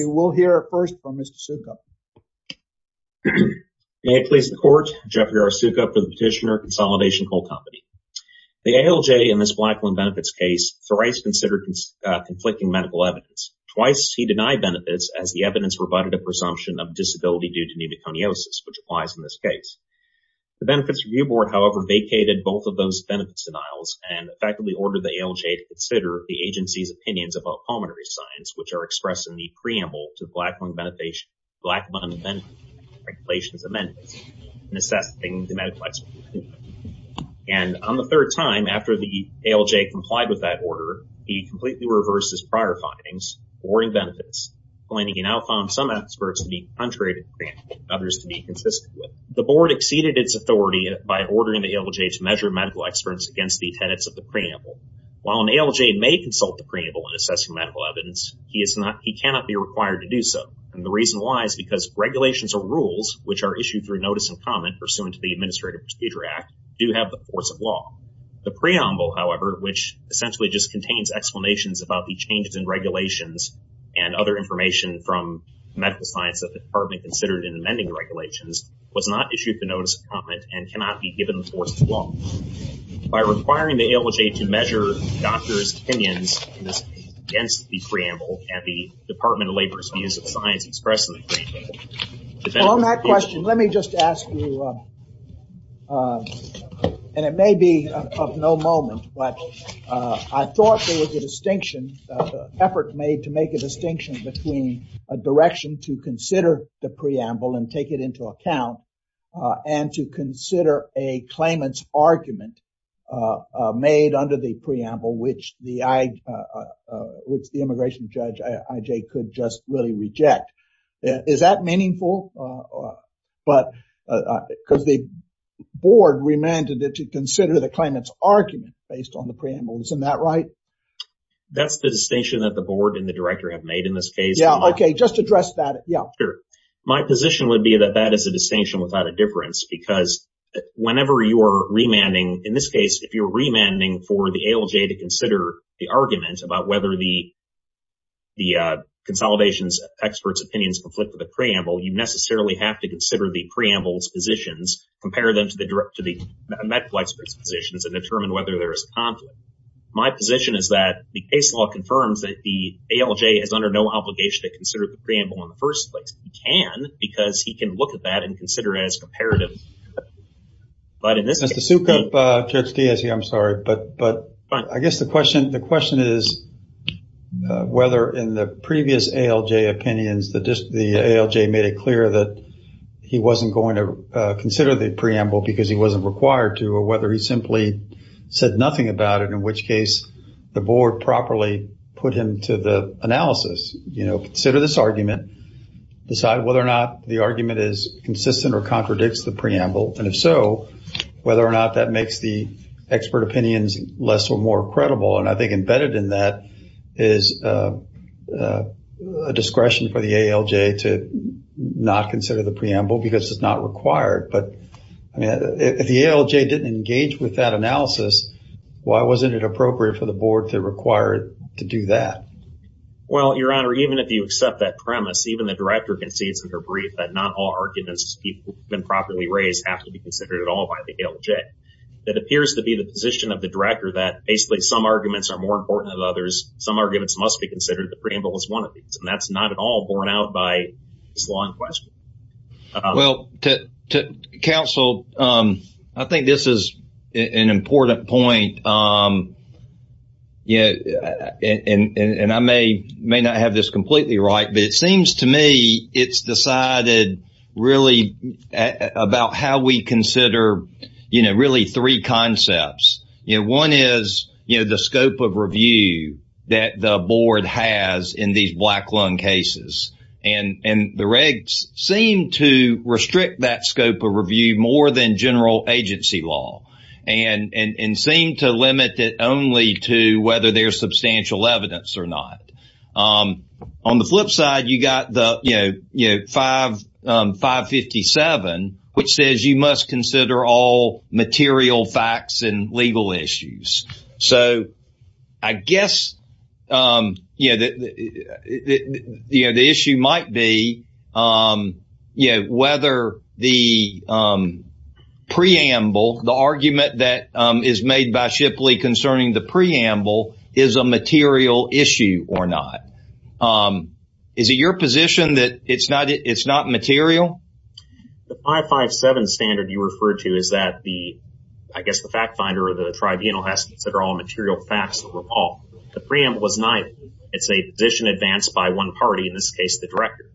We will hear first from Mr. Soukup. May it please the court, Jeffrey R. Soukup for the Petitioner, Consolidation Coal Company. The ALJ in this Blackland benefits case thrice considered conflicting medical evidence. Twice he denied benefits as the evidence provided a presumption of disability due to pneumoconiosis, which applies in this case. The Benefits Review Board, however, vacated both of those benefits denials and effectively ordered the ALJ to which are expressed in the preamble to the Blackland Regulations Amendments in assessing the medical expertise. And on the third time, after the ALJ complied with that order, he completely reversed his prior findings, awarding benefits, claiming he now found some experts to be contrary to the preamble and others to be consistent with it. The board exceeded its authority by ordering the ALJ to measure medical experts against the tenets of the medical evidence. He is not, he cannot be required to do so. And the reason why is because regulations or rules which are issued through notice and comment pursuant to the Administrative Procedure Act do have the force of law. The preamble, however, which essentially just contains explanations about the changes in regulations and other information from medical science that the department considered in amending the regulations, was not issued the notice of comment and cannot be given the force of law. By requiring the ALJ to measure doctors' opinions against the preamble at the Department of Labor's Museum of Science expressed in the preamble. On that question, let me just ask you, and it may be of no moment, but I thought there was a distinction, an effort made to make a distinction between a direction to consider the preamble and take it into account and to consider a claimant's preamble which the immigration judge IJ could just really reject. Is that meaningful? Because the board remanded it to consider the claimant's argument based on the preamble. Isn't that right? That's the distinction that the board and the director have made in this case. Yeah, okay, just address that. Yeah, sure. My position would be that that is a distinction without a difference because whenever you're remanding, in this case, if you're remanding for the ALJ to consider the argument about whether the consolidation's expert's opinions conflict with the preamble, you necessarily have to consider the preamble's positions, compare them to the med flight's positions, and determine whether there is a conflict. My position is that the case law confirms that the ALJ is under no obligation to consider the preamble in the first place. It can because he can look at that and consider it as comparative. Mr. Sukup, Judge Diaz here, I'm sorry, but I guess the question is whether in the previous ALJ opinions the ALJ made it clear that he wasn't going to consider the preamble because he wasn't required to or whether he simply said nothing about it in which case the board properly put him to the analysis. Consider this argument, decide whether or not the argument is consistent or contradicts the preamble and if so, whether or not that makes the expert opinions less or more credible and I think embedded in that is a discretion for the ALJ to not consider the preamble because it's not required but if the ALJ didn't engage with that analysis, why wasn't it appropriate for the board to require it to do that? Well, Your Honor, even if you accept that premise, even the director concedes in her brief that not all arguments have been properly raised have to be considered at all by the ALJ. That appears to be the position of the director that basically some arguments are more important than others, some arguments must be considered, the preamble is one of these and that's not at all borne out by this law in question. Well, to counsel, I think this is an important point and I may not have this completely right but it seems to me it's decided really about how we consider really three concepts. One is the scope of review that the board has in these black lung cases and the regs seem to restrict that scope of review more than general agency law and seem to limit it only to whether there's substantial evidence or not. On the flip side, you got the 557 which says you must consider all material facts and preamble, the argument that is made by Shipley concerning the preamble is a material issue or not. Is it your position that it's not it's not material? The 557 standard you referred to is that the, I guess the fact finder or the tribunal has to consider all material facts overall. The preamble was neither. It's a position advanced by one party, in this case the director.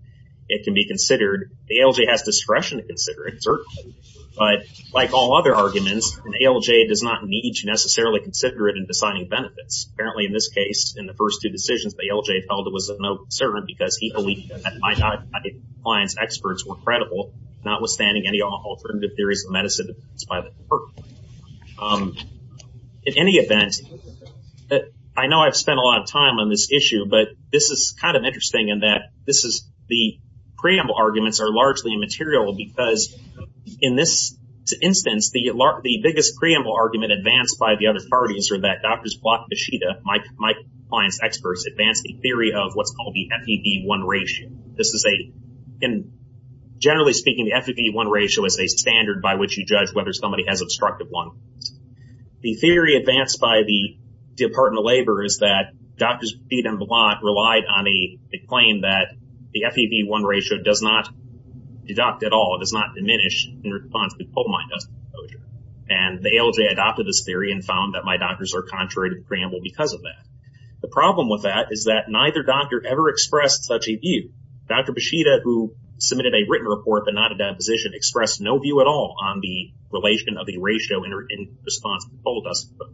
It can be considered, the ALJ has discretion to consider it, certainly. But like all other arguments, an ALJ does not need to necessarily consider it in deciding benefits. Apparently in this case, in the first two decisions, the ALJ felt it was of no concern because he believed that my client's experts were credible notwithstanding any alternative theories of medicine. In any event, I know I've spent a lot of time on this issue but this is kind of interesting in that this is the preamble arguments are largely material because in this instance, the largest, the biggest preamble argument advanced by the other parties are that Drs. Blatt, Beshida, my client's experts advanced a theory of what's called the FEV-1 ratio. This is a, generally speaking, the FEV-1 ratio is a standard by which you judge whether somebody has obstructive one. The theory advanced by the Department of Labor is that Drs. Blatt relied on a claim that the FEV-1 ratio does not deduct at all, it does not diminish in response to polamide dust exposure. And the ALJ adopted this theory and found that my doctors are contrary to the preamble because of that. The problem with that is that neither doctor ever expressed such a view. Dr. Beshida, who submitted a written report but not a deposition, expressed no view at all on the relation of the ratio in response to polamide dust exposure.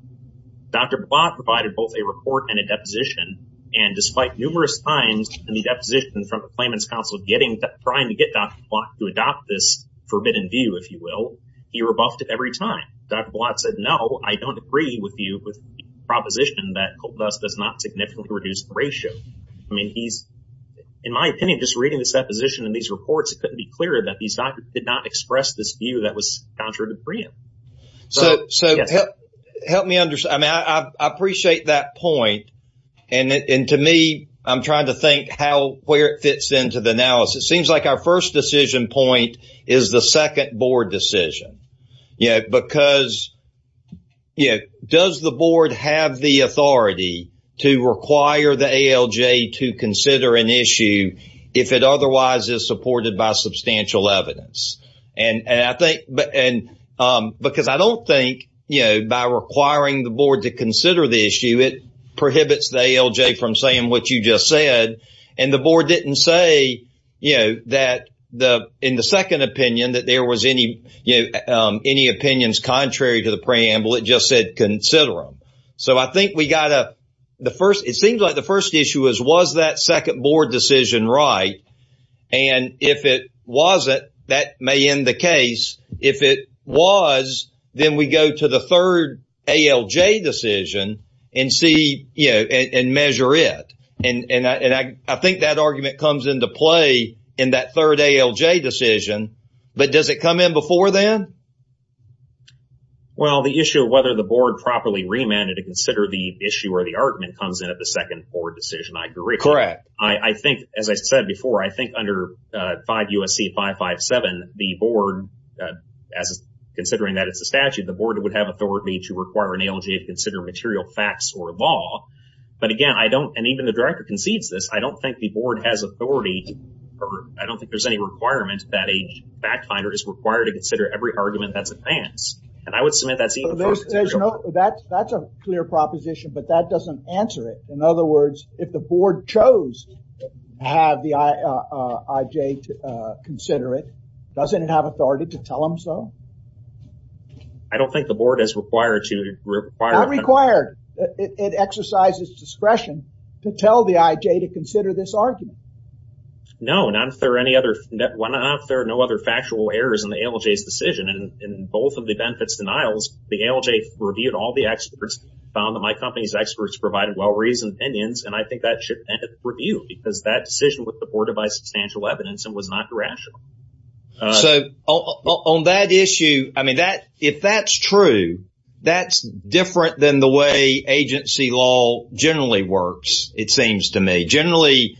Dr. Blatt provided both a report and a deposition. And despite numerous times in the deposition from the Claimants Council trying to get Dr. Blatt to adopt this forbidden view, if you will, he rebuffed it every time. Dr. Blatt said, no, I don't agree with you with the proposition that polamide dust does not significantly reduce the ratio. I mean, he's, in my opinion, just reading this deposition and these reports, it couldn't be clearer that these doctors did not express this view that was contrary to the preamble. And to me, I'm trying to think where it fits into the analysis. It seems like our first decision point is the second board decision. Because does the board have the authority to require the ALJ to consider an issue if it otherwise is supported by substantial prohibits the ALJ from saying what you just said. And the board didn't say, you know, that in the second opinion that there was any, you know, any opinions contrary to the preamble, it just said, consider them. So I think we got the first, it seems like the first issue was, was that second board decision right? And if it wasn't, that may end the case. If it was, then we go to the third ALJ decision and see, you know, and measure it. And I think that argument comes into play in that third ALJ decision. But does it come in before then? Well, the issue of whether the board properly remanded to consider the issue or the argument comes in at the second board decision, I agree. Correct. I think, as I said before, I think under 5 U.S.C. 557, the board, considering that it's a statute, the board would have authority to require an ALJ to consider material facts or law. But again, I don't, and even the director concedes this, I don't think the board has authority or I don't think there's any requirement that a fact finder is required to consider every argument that's advanced. And I would submit that's even. That's a clear proposition, but that doesn't answer it. In other words, if the board chose to have the IJ to consider it, doesn't it have authority to tell them so? I don't think the board is required to require. Not required. It exercises discretion to tell the IJ to consider this argument. No, not if there are any other, not if there are no other factual errors in the ALJ's decision. And in both of the benefits denials, the ALJ reviewed all the experts, found that my company's experts provided well-reasoned opinions. And I think that should end with review because that decision was supported by substantial evidence and was not irrational. So on that issue, I mean, if that's true, that's different than the way agency law generally works, it seems to me. Generally,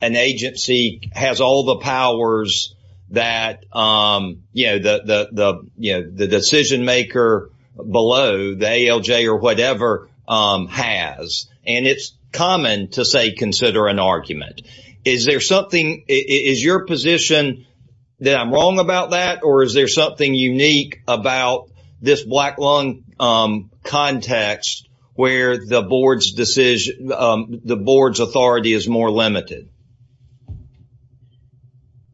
an agency has all the powers that, you know, the decision maker below, the ALJ or whatever, has. And it's common to say consider an argument. Is there something, is your position that I'm wrong about that? Or is there something unique about this black lung context where the board's decision, the board's authority is more limited?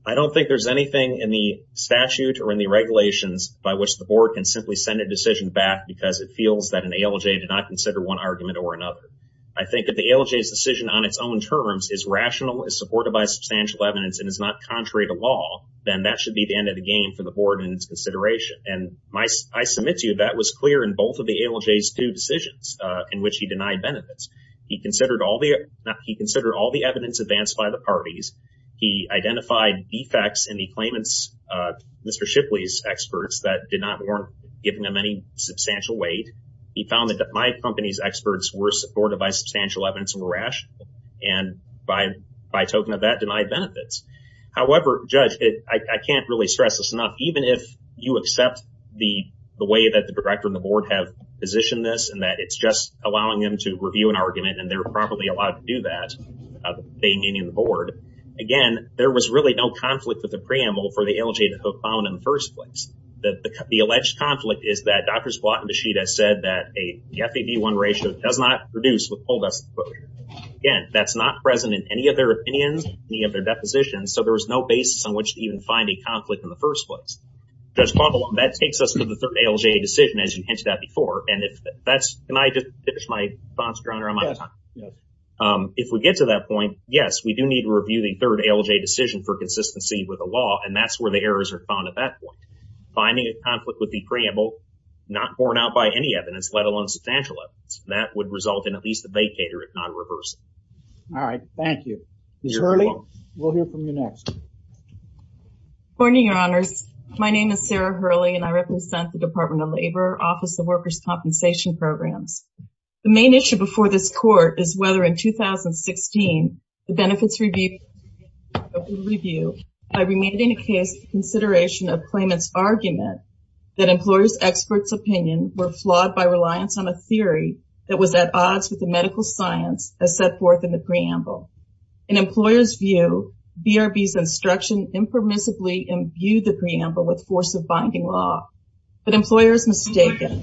I don't think there's anything in the statute or in the regulations by which the board can simply send a decision back because it feels that an ALJ did not consider one argument or another. I think that the ALJ's decision on its own terms is rational, is supported by substantial evidence, and is not contrary to law, then that should be the end of the game for the board in its consideration. And I submit to you that was clear in both of the ALJ's two decisions in which he denied benefits. He considered all the evidence advanced by the parties. He identified defects in the claimants, Mr. Shipley's experts, that did not warrant giving them any substantial weight. He found that my company's experts were supported by substantial evidence and were rational. And by token of that, denied benefits. However, Judge, I can't really stress this enough. Even if you accept the way that the director and the board have positioned this and that it's just allowing them to review an argument and they're properly allowed to do that, without paying any of the board. Again, there was really no conflict with the preamble for the ALJ to have found in the first place. The alleged conflict is that Drs. Blatt and Beshida said that a FAB1 ratio does not produce withholding. Again, that's not present in any of their opinions, any of their depositions, so there was no basis on which to even find a conflict in the first place. Judge, that takes us to the third ALJ decision, as you hinted at before. And if that's, can I just finish my thoughts, Your Honor, on my time? If we get to that point, yes, we do need to review the third ALJ decision for consistency with the law, and that's where the errors are found at that point. Finding a conflict with the preamble not borne out by any evidence, let alone substantial evidence, that would result in at least a vacater, if not a reversal. All right, thank you. Ms. Hurley, we'll hear from you next. Good morning, Your Honors. My name is Sarah Hurley and I represent the Department of Labor, Office of Workers' Compensation Programs. The main issue before this Court is whether in 2016, the Benefits Review by remaining a case for consideration of claimants' argument that employers' experts' opinion were flawed by reliance on a theory that was at odds with the medical science as set forth in the preamble. In employers' view, BRB's instruction impermissibly imbued the preamble with force of binding law, but employers mistaken.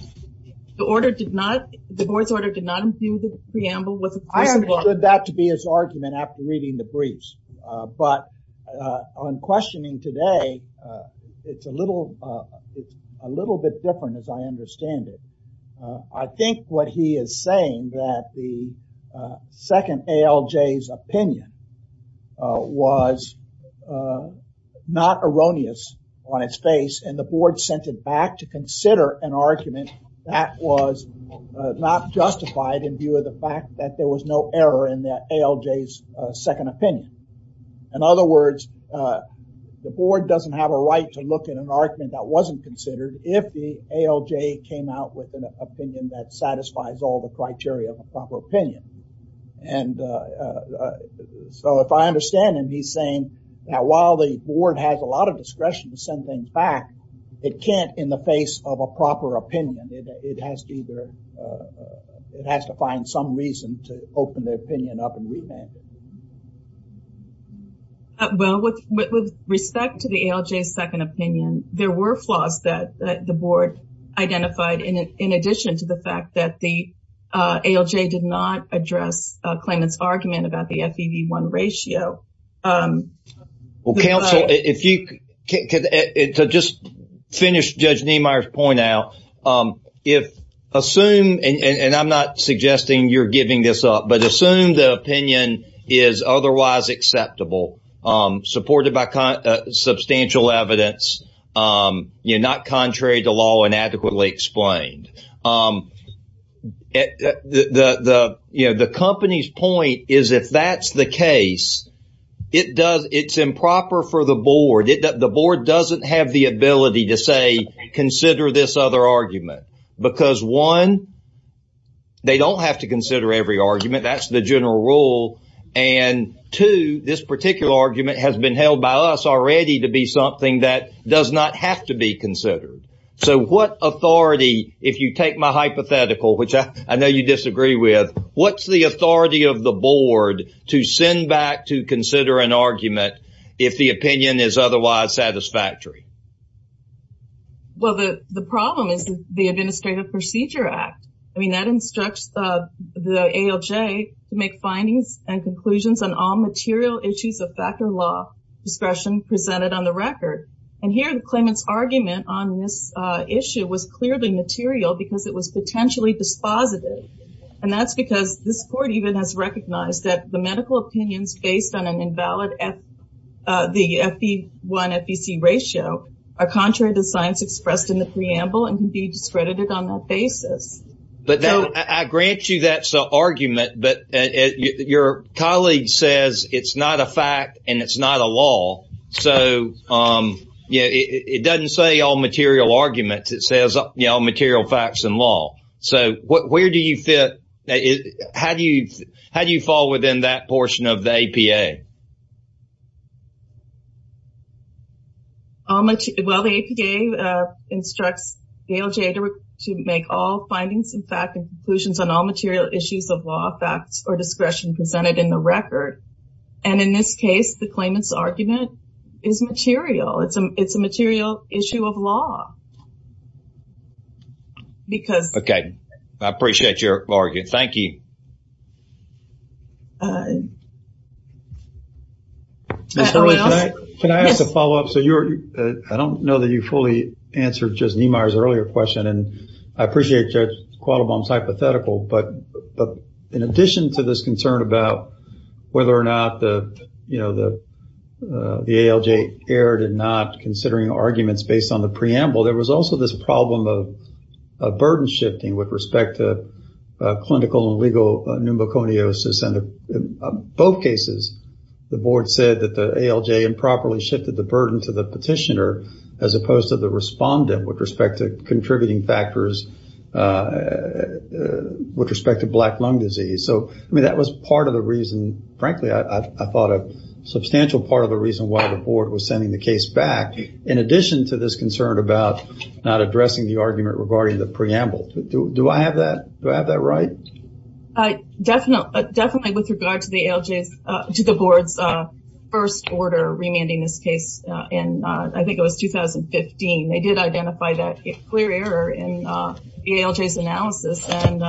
The order did not, the Board's order did not imbue the preamble with... I understood that to be his argument after reading the briefs, but on questioning today, it's a little, it's a little bit different as I understand it. I think what he is saying that the ALJ's opinion was not erroneous on its face and the Board sent it back to consider an argument that was not justified in view of the fact that there was no error in that ALJ's second opinion. In other words, the Board doesn't have a right to look at an argument that wasn't considered if the ALJ came out with an opinion that satisfies all the criteria of a proper opinion. And so, if I understand him, he's saying that while the Board has a lot of discretion to send things back, it can't in the face of a proper opinion. It has to either, it has to find some reason to open the opinion up and revamp it. Well, with respect to the ALJ's second opinion, there were flaws that the Board identified in addition to the fact that the ALJ did not address Klayman's argument about the FEV1 ratio. Well, counsel, if you, to just finish Judge Niemeyer's point out, if, assume, and I'm not suggesting you're giving this up, but assume the opinion is otherwise acceptable, supported by the Board, the company's point is if that's the case, it's improper for the Board. The Board doesn't have the ability to say, consider this other argument. Because one, they don't have to consider every argument. That's the general rule. And two, this particular argument has been held by us already to be something that does not have to be considered. So what authority, if you take my hypothetical, which I know you disagree with, what's the authority of the Board to send back to consider an argument if the opinion is otherwise satisfactory? Well, the problem is the Administrative Procedure Act. I mean, that instructs the ALJ to make findings and conclusions on all material issues of factor law discretion presented on the record. And here, Klayman's argument on this issue was clearly material because it was potentially dispositive. And that's because this Court even has recognized that the medical opinions based on an invalid FEV1-FEC ratio are contrary to science expressed in the preamble and can be discredited on that basis. But I grant you that's an argument, but your colleague says it's not a fact and it's not a law. So, yeah, it doesn't say all material arguments. It says, you know, all material facts and law. So where do you fit? How do you fall within that portion of the APA? Well, the APA instructs the ALJ to make all findings, in fact, and conclusions on all material issues of law, facts, or discretion presented in the record. And in this case, the Klayman's argument is material. It's a material issue of law. Okay. I appreciate your argument. Thank you. Ms. Hurley, can I ask a follow-up? I don't know that you fully answered Judge Niemeyer's earlier question, and I appreciate Judge Quattlebaum's hypothetical, but in addition to this concern about whether or not the ALJ erred in not considering arguments based on the preamble, there was also this problem of burden shifting with respect to clinical and legal pneumoconiosis and in both cases, the board said that the ALJ improperly shifted the burden to the petitioner as opposed to the respondent with respect to contributing factors with respect to black lung disease. So, I mean, that was part of the reason, frankly, I thought a substantial part of the reason why the board was sending the case back in addition to this concern about not addressing the argument regarding the preamble. Do I have that right? I definitely, definitely with regard to the ALJ's, to the board's first order remanding this case in, I think it was 2015, they did identify that clear error in the ALJ's analysis and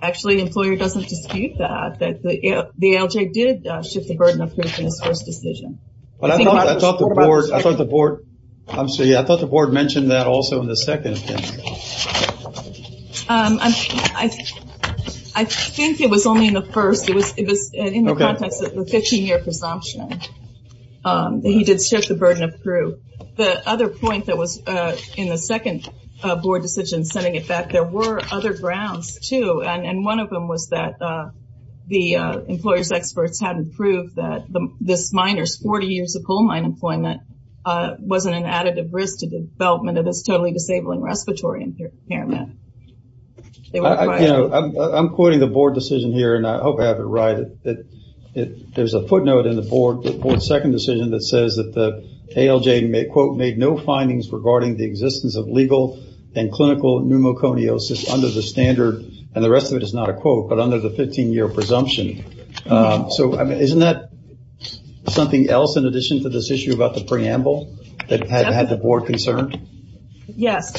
actually the employer doesn't dispute that, that the ALJ did shift the burden of proof in its first decision. I thought the board, I'm sorry, I thought the board mentioned that also in the second opinion. I think it was only in the first, it was in the context of the 15-year presumption that he did shift the burden of proof. The other point that was in the second board decision sending it back, there were other grounds too and one of them was that the employer's experts hadn't proved that this miner's 40 years of coal mine employment wasn't an additive risk to the development of this totally disabling respiratory impairment. I'm quoting the board decision here and I hope I have it right. There's a footnote in the board's second decision that says that the ALJ made, quote, made no findings regarding the existence of legal and clinical pneumoconiosis under the standard, and the rest of it is not a quote, but under the 15-year presumption. Isn't that something else in addition to this preamble that had the board concerned? Yes,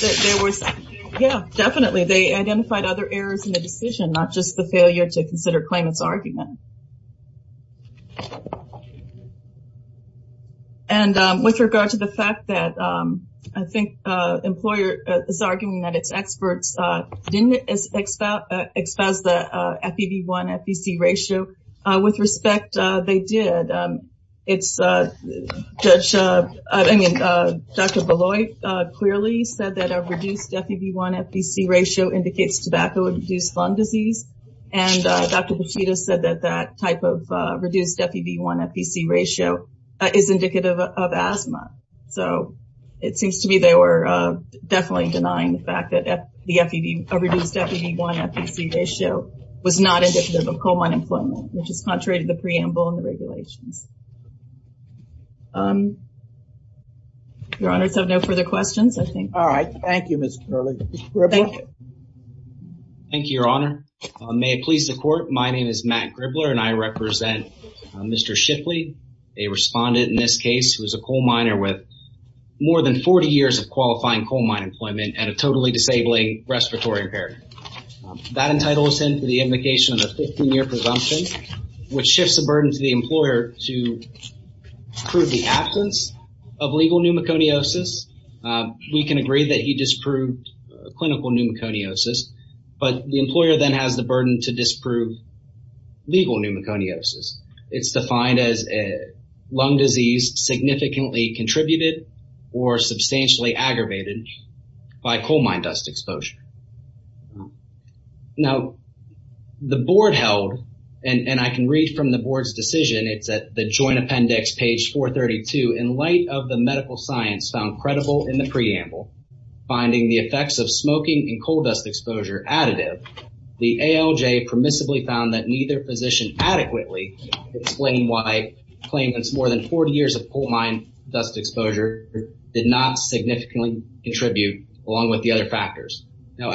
definitely. They identified other errors in the decision, not just the failure to consider claimant's argument. And with regard to the fact that I think employer is arguing that its experts didn't expose the FEV1-FBC ratio, with respect, they did. Dr. Bolloy clearly said that a reduced FEV1-FBC ratio indicates tobacco-induced lung disease, and Dr. Petito said that that type of reduced FEV1-FBC ratio is indicative of asthma. So, it seems to me they were definitely denying the fact that a reduced FEV1-FBC ratio was not indicative of coal mine employment, which is contrary to the preamble and the regulations. Your Honors, I have no further questions, I think. All right. Thank you, Ms. Curley. Thank you, Your Honor. May it please the Court, my name is Matt Gribler and I represent Mr. Shipley, a respondent in this case who is a coal miner with more than 40 years of qualifying coal mine employment and a totally disabling respiratory impairment. That entitles him to the indication of a 15-year presumption, which shifts the burden to the employer to prove the absence of legal pneumoconiosis. We can agree that he disproved clinical pneumoconiosis, but the employer then has the burden to disprove legal pneumoconiosis. It's defined as a by coal mine dust exposure. Now, the Board held, and I can read from the Board's decision, it's at the Joint Appendix, page 432, in light of the medical science found credible in the preamble, finding the effects of smoking and coal dust exposure additive, the ALJ permissibly found that neither physician adequately explained why claimants more than 40 years of coal mine dust exposure did not significantly contribute along with the other factors. Now,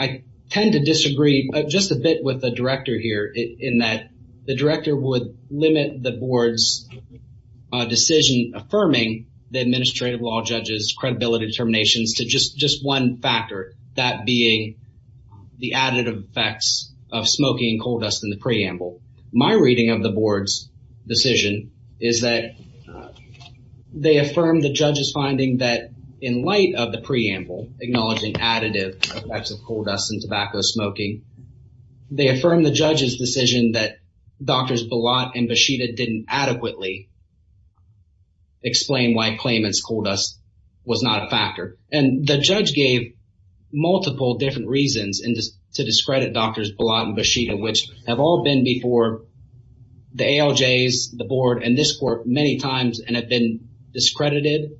I tend to disagree just a bit with the Director here in that the Director would limit the Board's decision affirming the administrative law judge's credibility determinations to just one factor, that being the additive effects of smoking and coal dust in the preamble. My reading of the Board's decision is that they affirmed the judge's finding that in light of the preamble acknowledging additive effects of coal dust and tobacco smoking, they affirmed the judge's decision that Drs. Bilat and Beshida didn't adequately explain why claimants coal dust was not a factor. And the judge gave multiple different reasons to discredit Drs. Bilat and Beshida, which have all been before the ALJs, the Board, and this Court many times, and have been discredited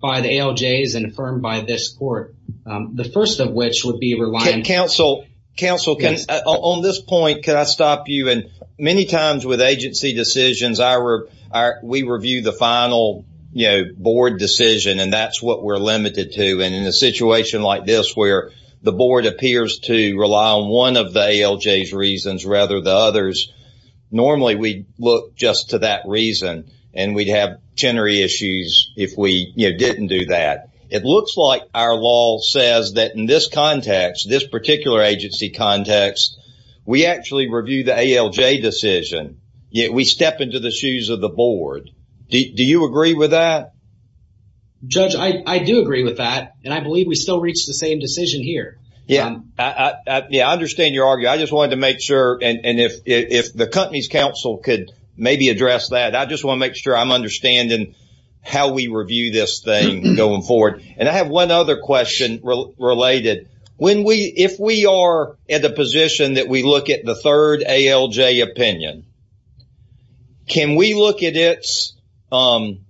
by the ALJs and affirmed by this Court, the first of which would be relying... Counsel, on this point, can I stop you? And many times with agency decisions, we review the final Board decision, and that's what we're limited to. And in a situation like this, where the Board appears to rely on one of the ALJs reasons rather than others, normally we look just to that reason, and we'd have tenery issues if we, you know, didn't do that. It looks like our law says that in this context, this particular agency context, we actually review the ALJ decision, yet we step into the shoes of the Board. Do you agree with that? Judge, I do agree with that, and I believe we still reach the same decision here. Yeah, I understand your argument. I just wanted to make sure, and if the company's counsel could maybe address that, I just want to make sure I'm understanding how we review this thing going forward. And I have one other question related. If we are at a position that we look at the third opinion, can we look at its, you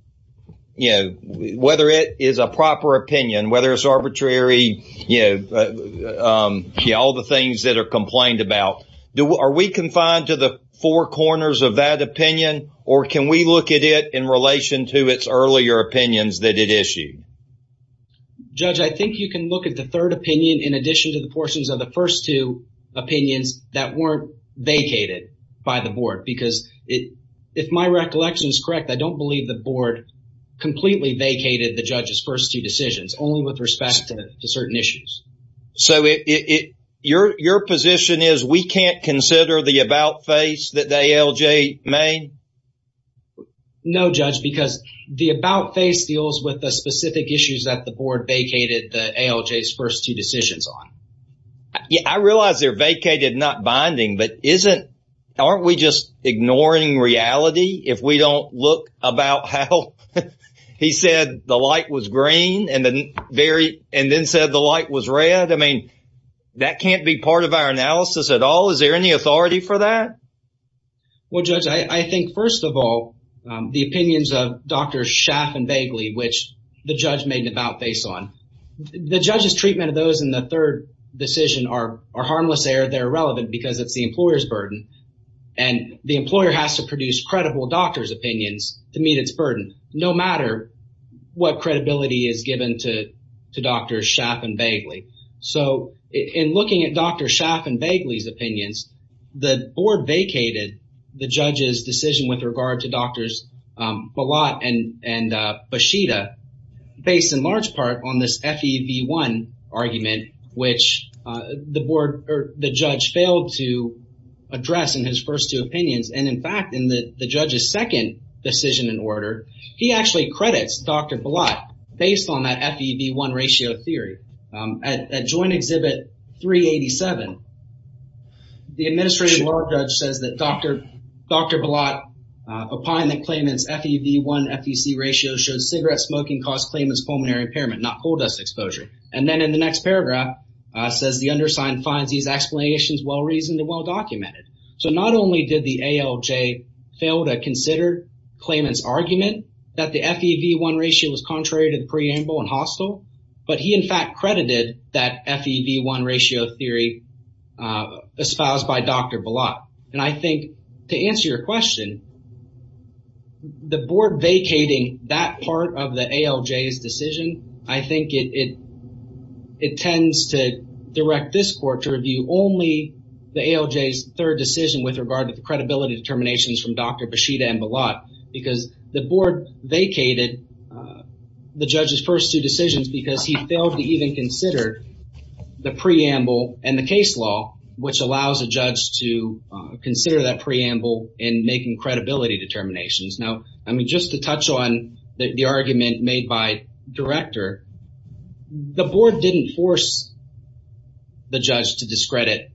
know, whether it is a proper opinion, whether it's arbitrary, you know, all the things that are complained about, are we confined to the four corners of that opinion, or can we look at it in relation to its earlier opinions that it issued? Judge, I think you can look at the third opinion in addition to the portions of the first two opinions that weren't vacated by the Board, because if my recollection is correct, I don't believe the Board completely vacated the judge's first two decisions, only with respect to certain issues. So, your position is we can't consider the about-face that the ALJ made? No, Judge, because the about-face deals with the specific issues that the Board vacated the ALJ's first two decisions on. Yeah, I realize they're vacated, not binding, but isn't, aren't we just ignoring reality if we don't look about how he said the light was green and then very, and then said the light was red? I mean, that can't be part of our analysis at all. Is there any authority for that? Well, Judge, I think, first of all, the opinions of Dr. Schaff and Bagley, which the judge's treatment of those in the third decision are harmless, they're irrelevant because it's the employer's burden, and the employer has to produce credible doctor's opinions to meet its burden, no matter what credibility is given to Dr. Schaff and Bagley. So, in looking at Dr. Schaff and Bagley's opinions, the Board vacated the judge's decision with regard to Drs. Balot and Bashida based, in large part, on this FEV1 argument, which the Board, or the judge, failed to address in his first two opinions. And, in fact, in the judge's second decision in order, he actually credits Dr. Balot based on that FEV1 ratio theory. At joint exhibit 387, the Administrative Law Judge says that Dr. Balot, upon the claimant's FEV1 FEC ratio, should cigarette smoking cause claimant's pulmonary impairment, not coal dust exposure. And then, in the next paragraph, says the undersigned finds these explanations well reasoned and well documented. So, not only did the ALJ fail to consider claimant's argument that the FEV1 ratio was contrary to the preamble and hostile, but he, in fact, credited that FEV1 ratio theory espoused by Dr. Balot. And I think, to answer your question, the Board vacating that part of the ALJ's decision, I think it tends to direct this court to review only the ALJ's third decision with regard to the credibility determinations from Dr. Bashida and Balot. Because the Board vacated the judge's first two decisions because he failed to even consider the preamble and the case law, which allows a judge to consider that determinations. Now, I mean, just to touch on the argument made by the Director, the Board didn't force the judge to discredit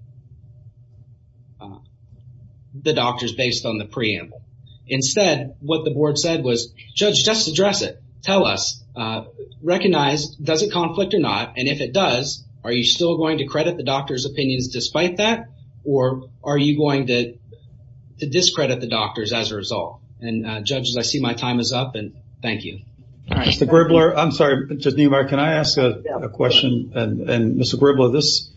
the doctors based on the preamble. Instead, what the Board said was, Judge, just address it. Tell us. Recognize, does it conflict or not? And if it does, are you still going to credit the doctor's opinions despite that? Or are you going to discredit the doctors as a result? And judges, I see my time is up, and thank you. All right. Mr. Gribler, I'm sorry, Judge Niemeyer, can I ask a question? And Mr. Gribler, this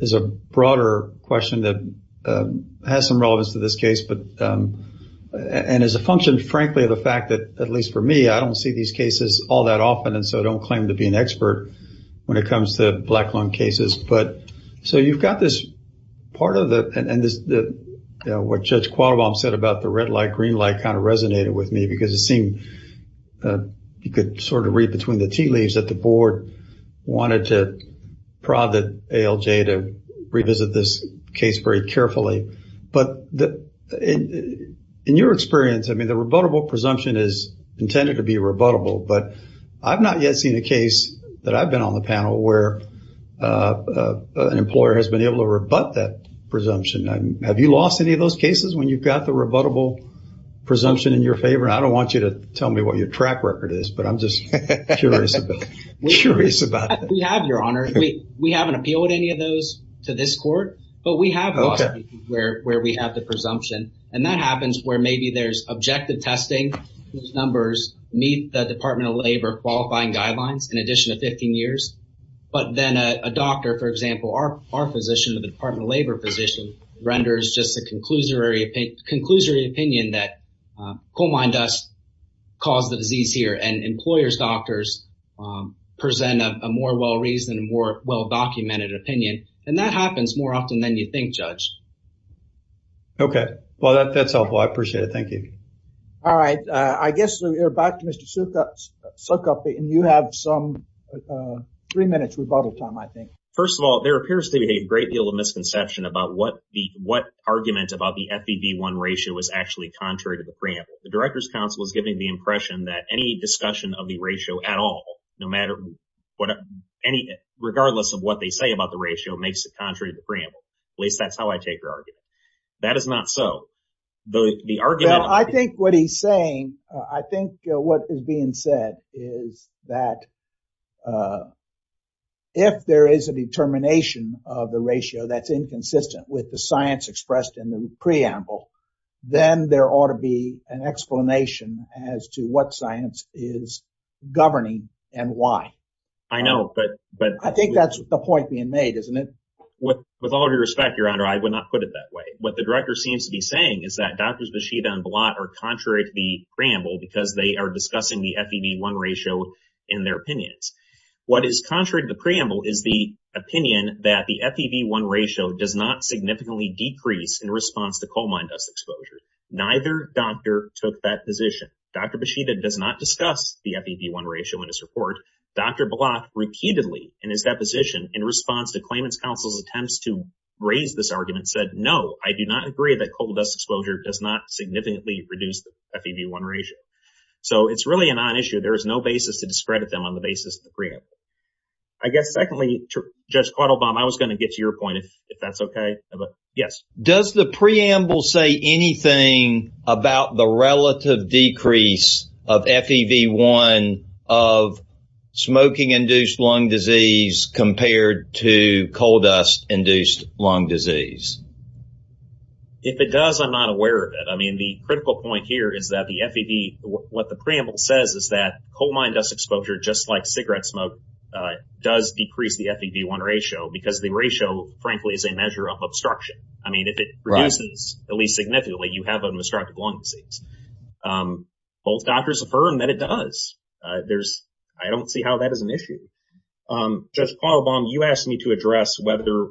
is a broader question that has some relevance to this case, and is a function, frankly, of the fact that, at least for me, I don't see these cases all that often, and so I don't claim to be an expert when it comes to black lung cases. So you've got this part of the, and what Judge Qualbaum said about the red light, green light kind of resonated with me because it seemed you could sort of read between the tea leaves that the Board wanted to prod the ALJ to revisit this case very carefully. But in your experience, I mean, the rebuttable presumption is intended to be rebuttable, but I've not yet seen a case that I've been on the panel where an employer has been able to rebut that presumption. Have you lost any of those cases when you've got the rebuttable presumption in your favor? I don't want you to tell me what your track record is, but I'm just curious about it. We have, Your Honor. We haven't appealed any of those to this court, but we have lost cases where we have the presumption, and that happens where maybe there's objective testing numbers meet the Department of Labor qualifying guidelines in addition to 15 years, but then a doctor, for example, our physician, the Department of Labor physician, renders just a conclusory opinion that coal mine dust caused the disease here, and employers' doctors present a more well-reasoned, more well-documented opinion, and that happens more often than you think, Judge. Okay. Well, that's helpful. I appreciate it. Thank you. Three minutes rebuttal time, I think. First of all, there appears to be a great deal of misconception about what argument about the FEV1 ratio is actually contrary to the preamble. The Director's Counsel is giving the impression that any discussion of the ratio at all, no matter what, regardless of what they say about the ratio, makes it contrary to the preamble. At least that's how I take your argument. That is not so. I think what he's saying, I think what is being said is that if there is a determination of the ratio that's inconsistent with the science expressed in the preamble, then there ought to be an explanation as to what science is governing and why. I think that's the point being made, isn't it? With all due respect, Your Honor, I would not put it that way. What the Director seems to be saying is that Drs. are discussing the FEV1 ratio in their opinions. What is contrary to the preamble is the opinion that the FEV1 ratio does not significantly decrease in response to coal mine dust exposure. Neither doctor took that position. Dr. Beshida does not discuss the FEV1 ratio in his report. Dr. Block, repeatedly in his deposition, in response to Claimant's Counsel's attempts to raise this argument, said, no, I do not agree that coal dust exposure does not significantly reduce the FEV1 ratio. So it's really a non-issue. There is no basis to discredit them on the basis of the preamble. I guess, secondly, Judge Quattlebaum, I was going to get to your point, if that's okay. Yes. Does the preamble say anything about the relative decrease of FEV1 of smoking-induced lung disease compared to coal dust-induced lung disease? If it does, I'm not aware of it. I mean, the critical point here is that the FEV, what the preamble says is that coal mine dust exposure, just like cigarette smoke, does decrease the FEV1 ratio because the ratio, frankly, is a measure of obstruction. I mean, if it reduces, at least significantly, you have an obstructive lung disease. Both doctors affirm that it does. There's, I don't see how that is an issue. Judge Quattlebaum, you asked me to address whether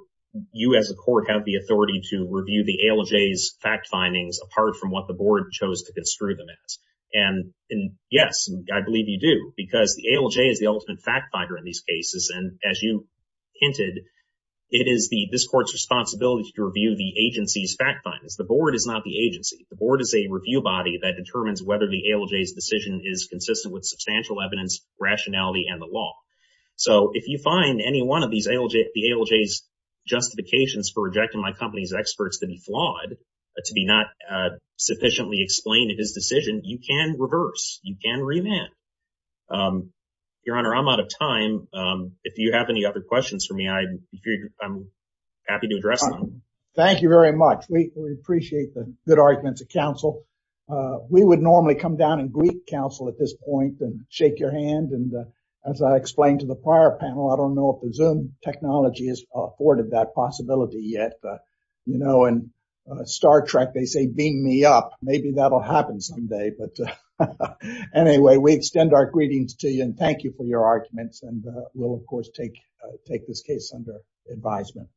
you, as a court, have the authority to review the ALJ's fact findings apart from what the board chose to construe them as. And yes, I believe you do because the ALJ is the ultimate fact finder in these cases. And as you hinted, it is this court's responsibility to review the agency's fact findings. The board is not the agency. The board is a review body that determines whether the ALJ's decision is consistent with substantial evidence, rationality, and the law. So if you find any one of these ALJ's justifications for rejecting my company's experts to be flawed, to be not sufficiently explained in his decision, you can reverse, you can remand. Your Honor, I'm out of time. If you have any other questions for me, I'm happy to address them. Thank you very much. We appreciate the good arguments of counsel. We would normally come down and greet counsel at this point and shake your hand. And as I the prior panel, I don't know if the Zoom technology has afforded that possibility yet. In Star Trek, they say, beam me up. Maybe that'll happen someday. But anyway, we extend our greetings to you and thank you for your arguments. And we'll, of course, take this case under advisement.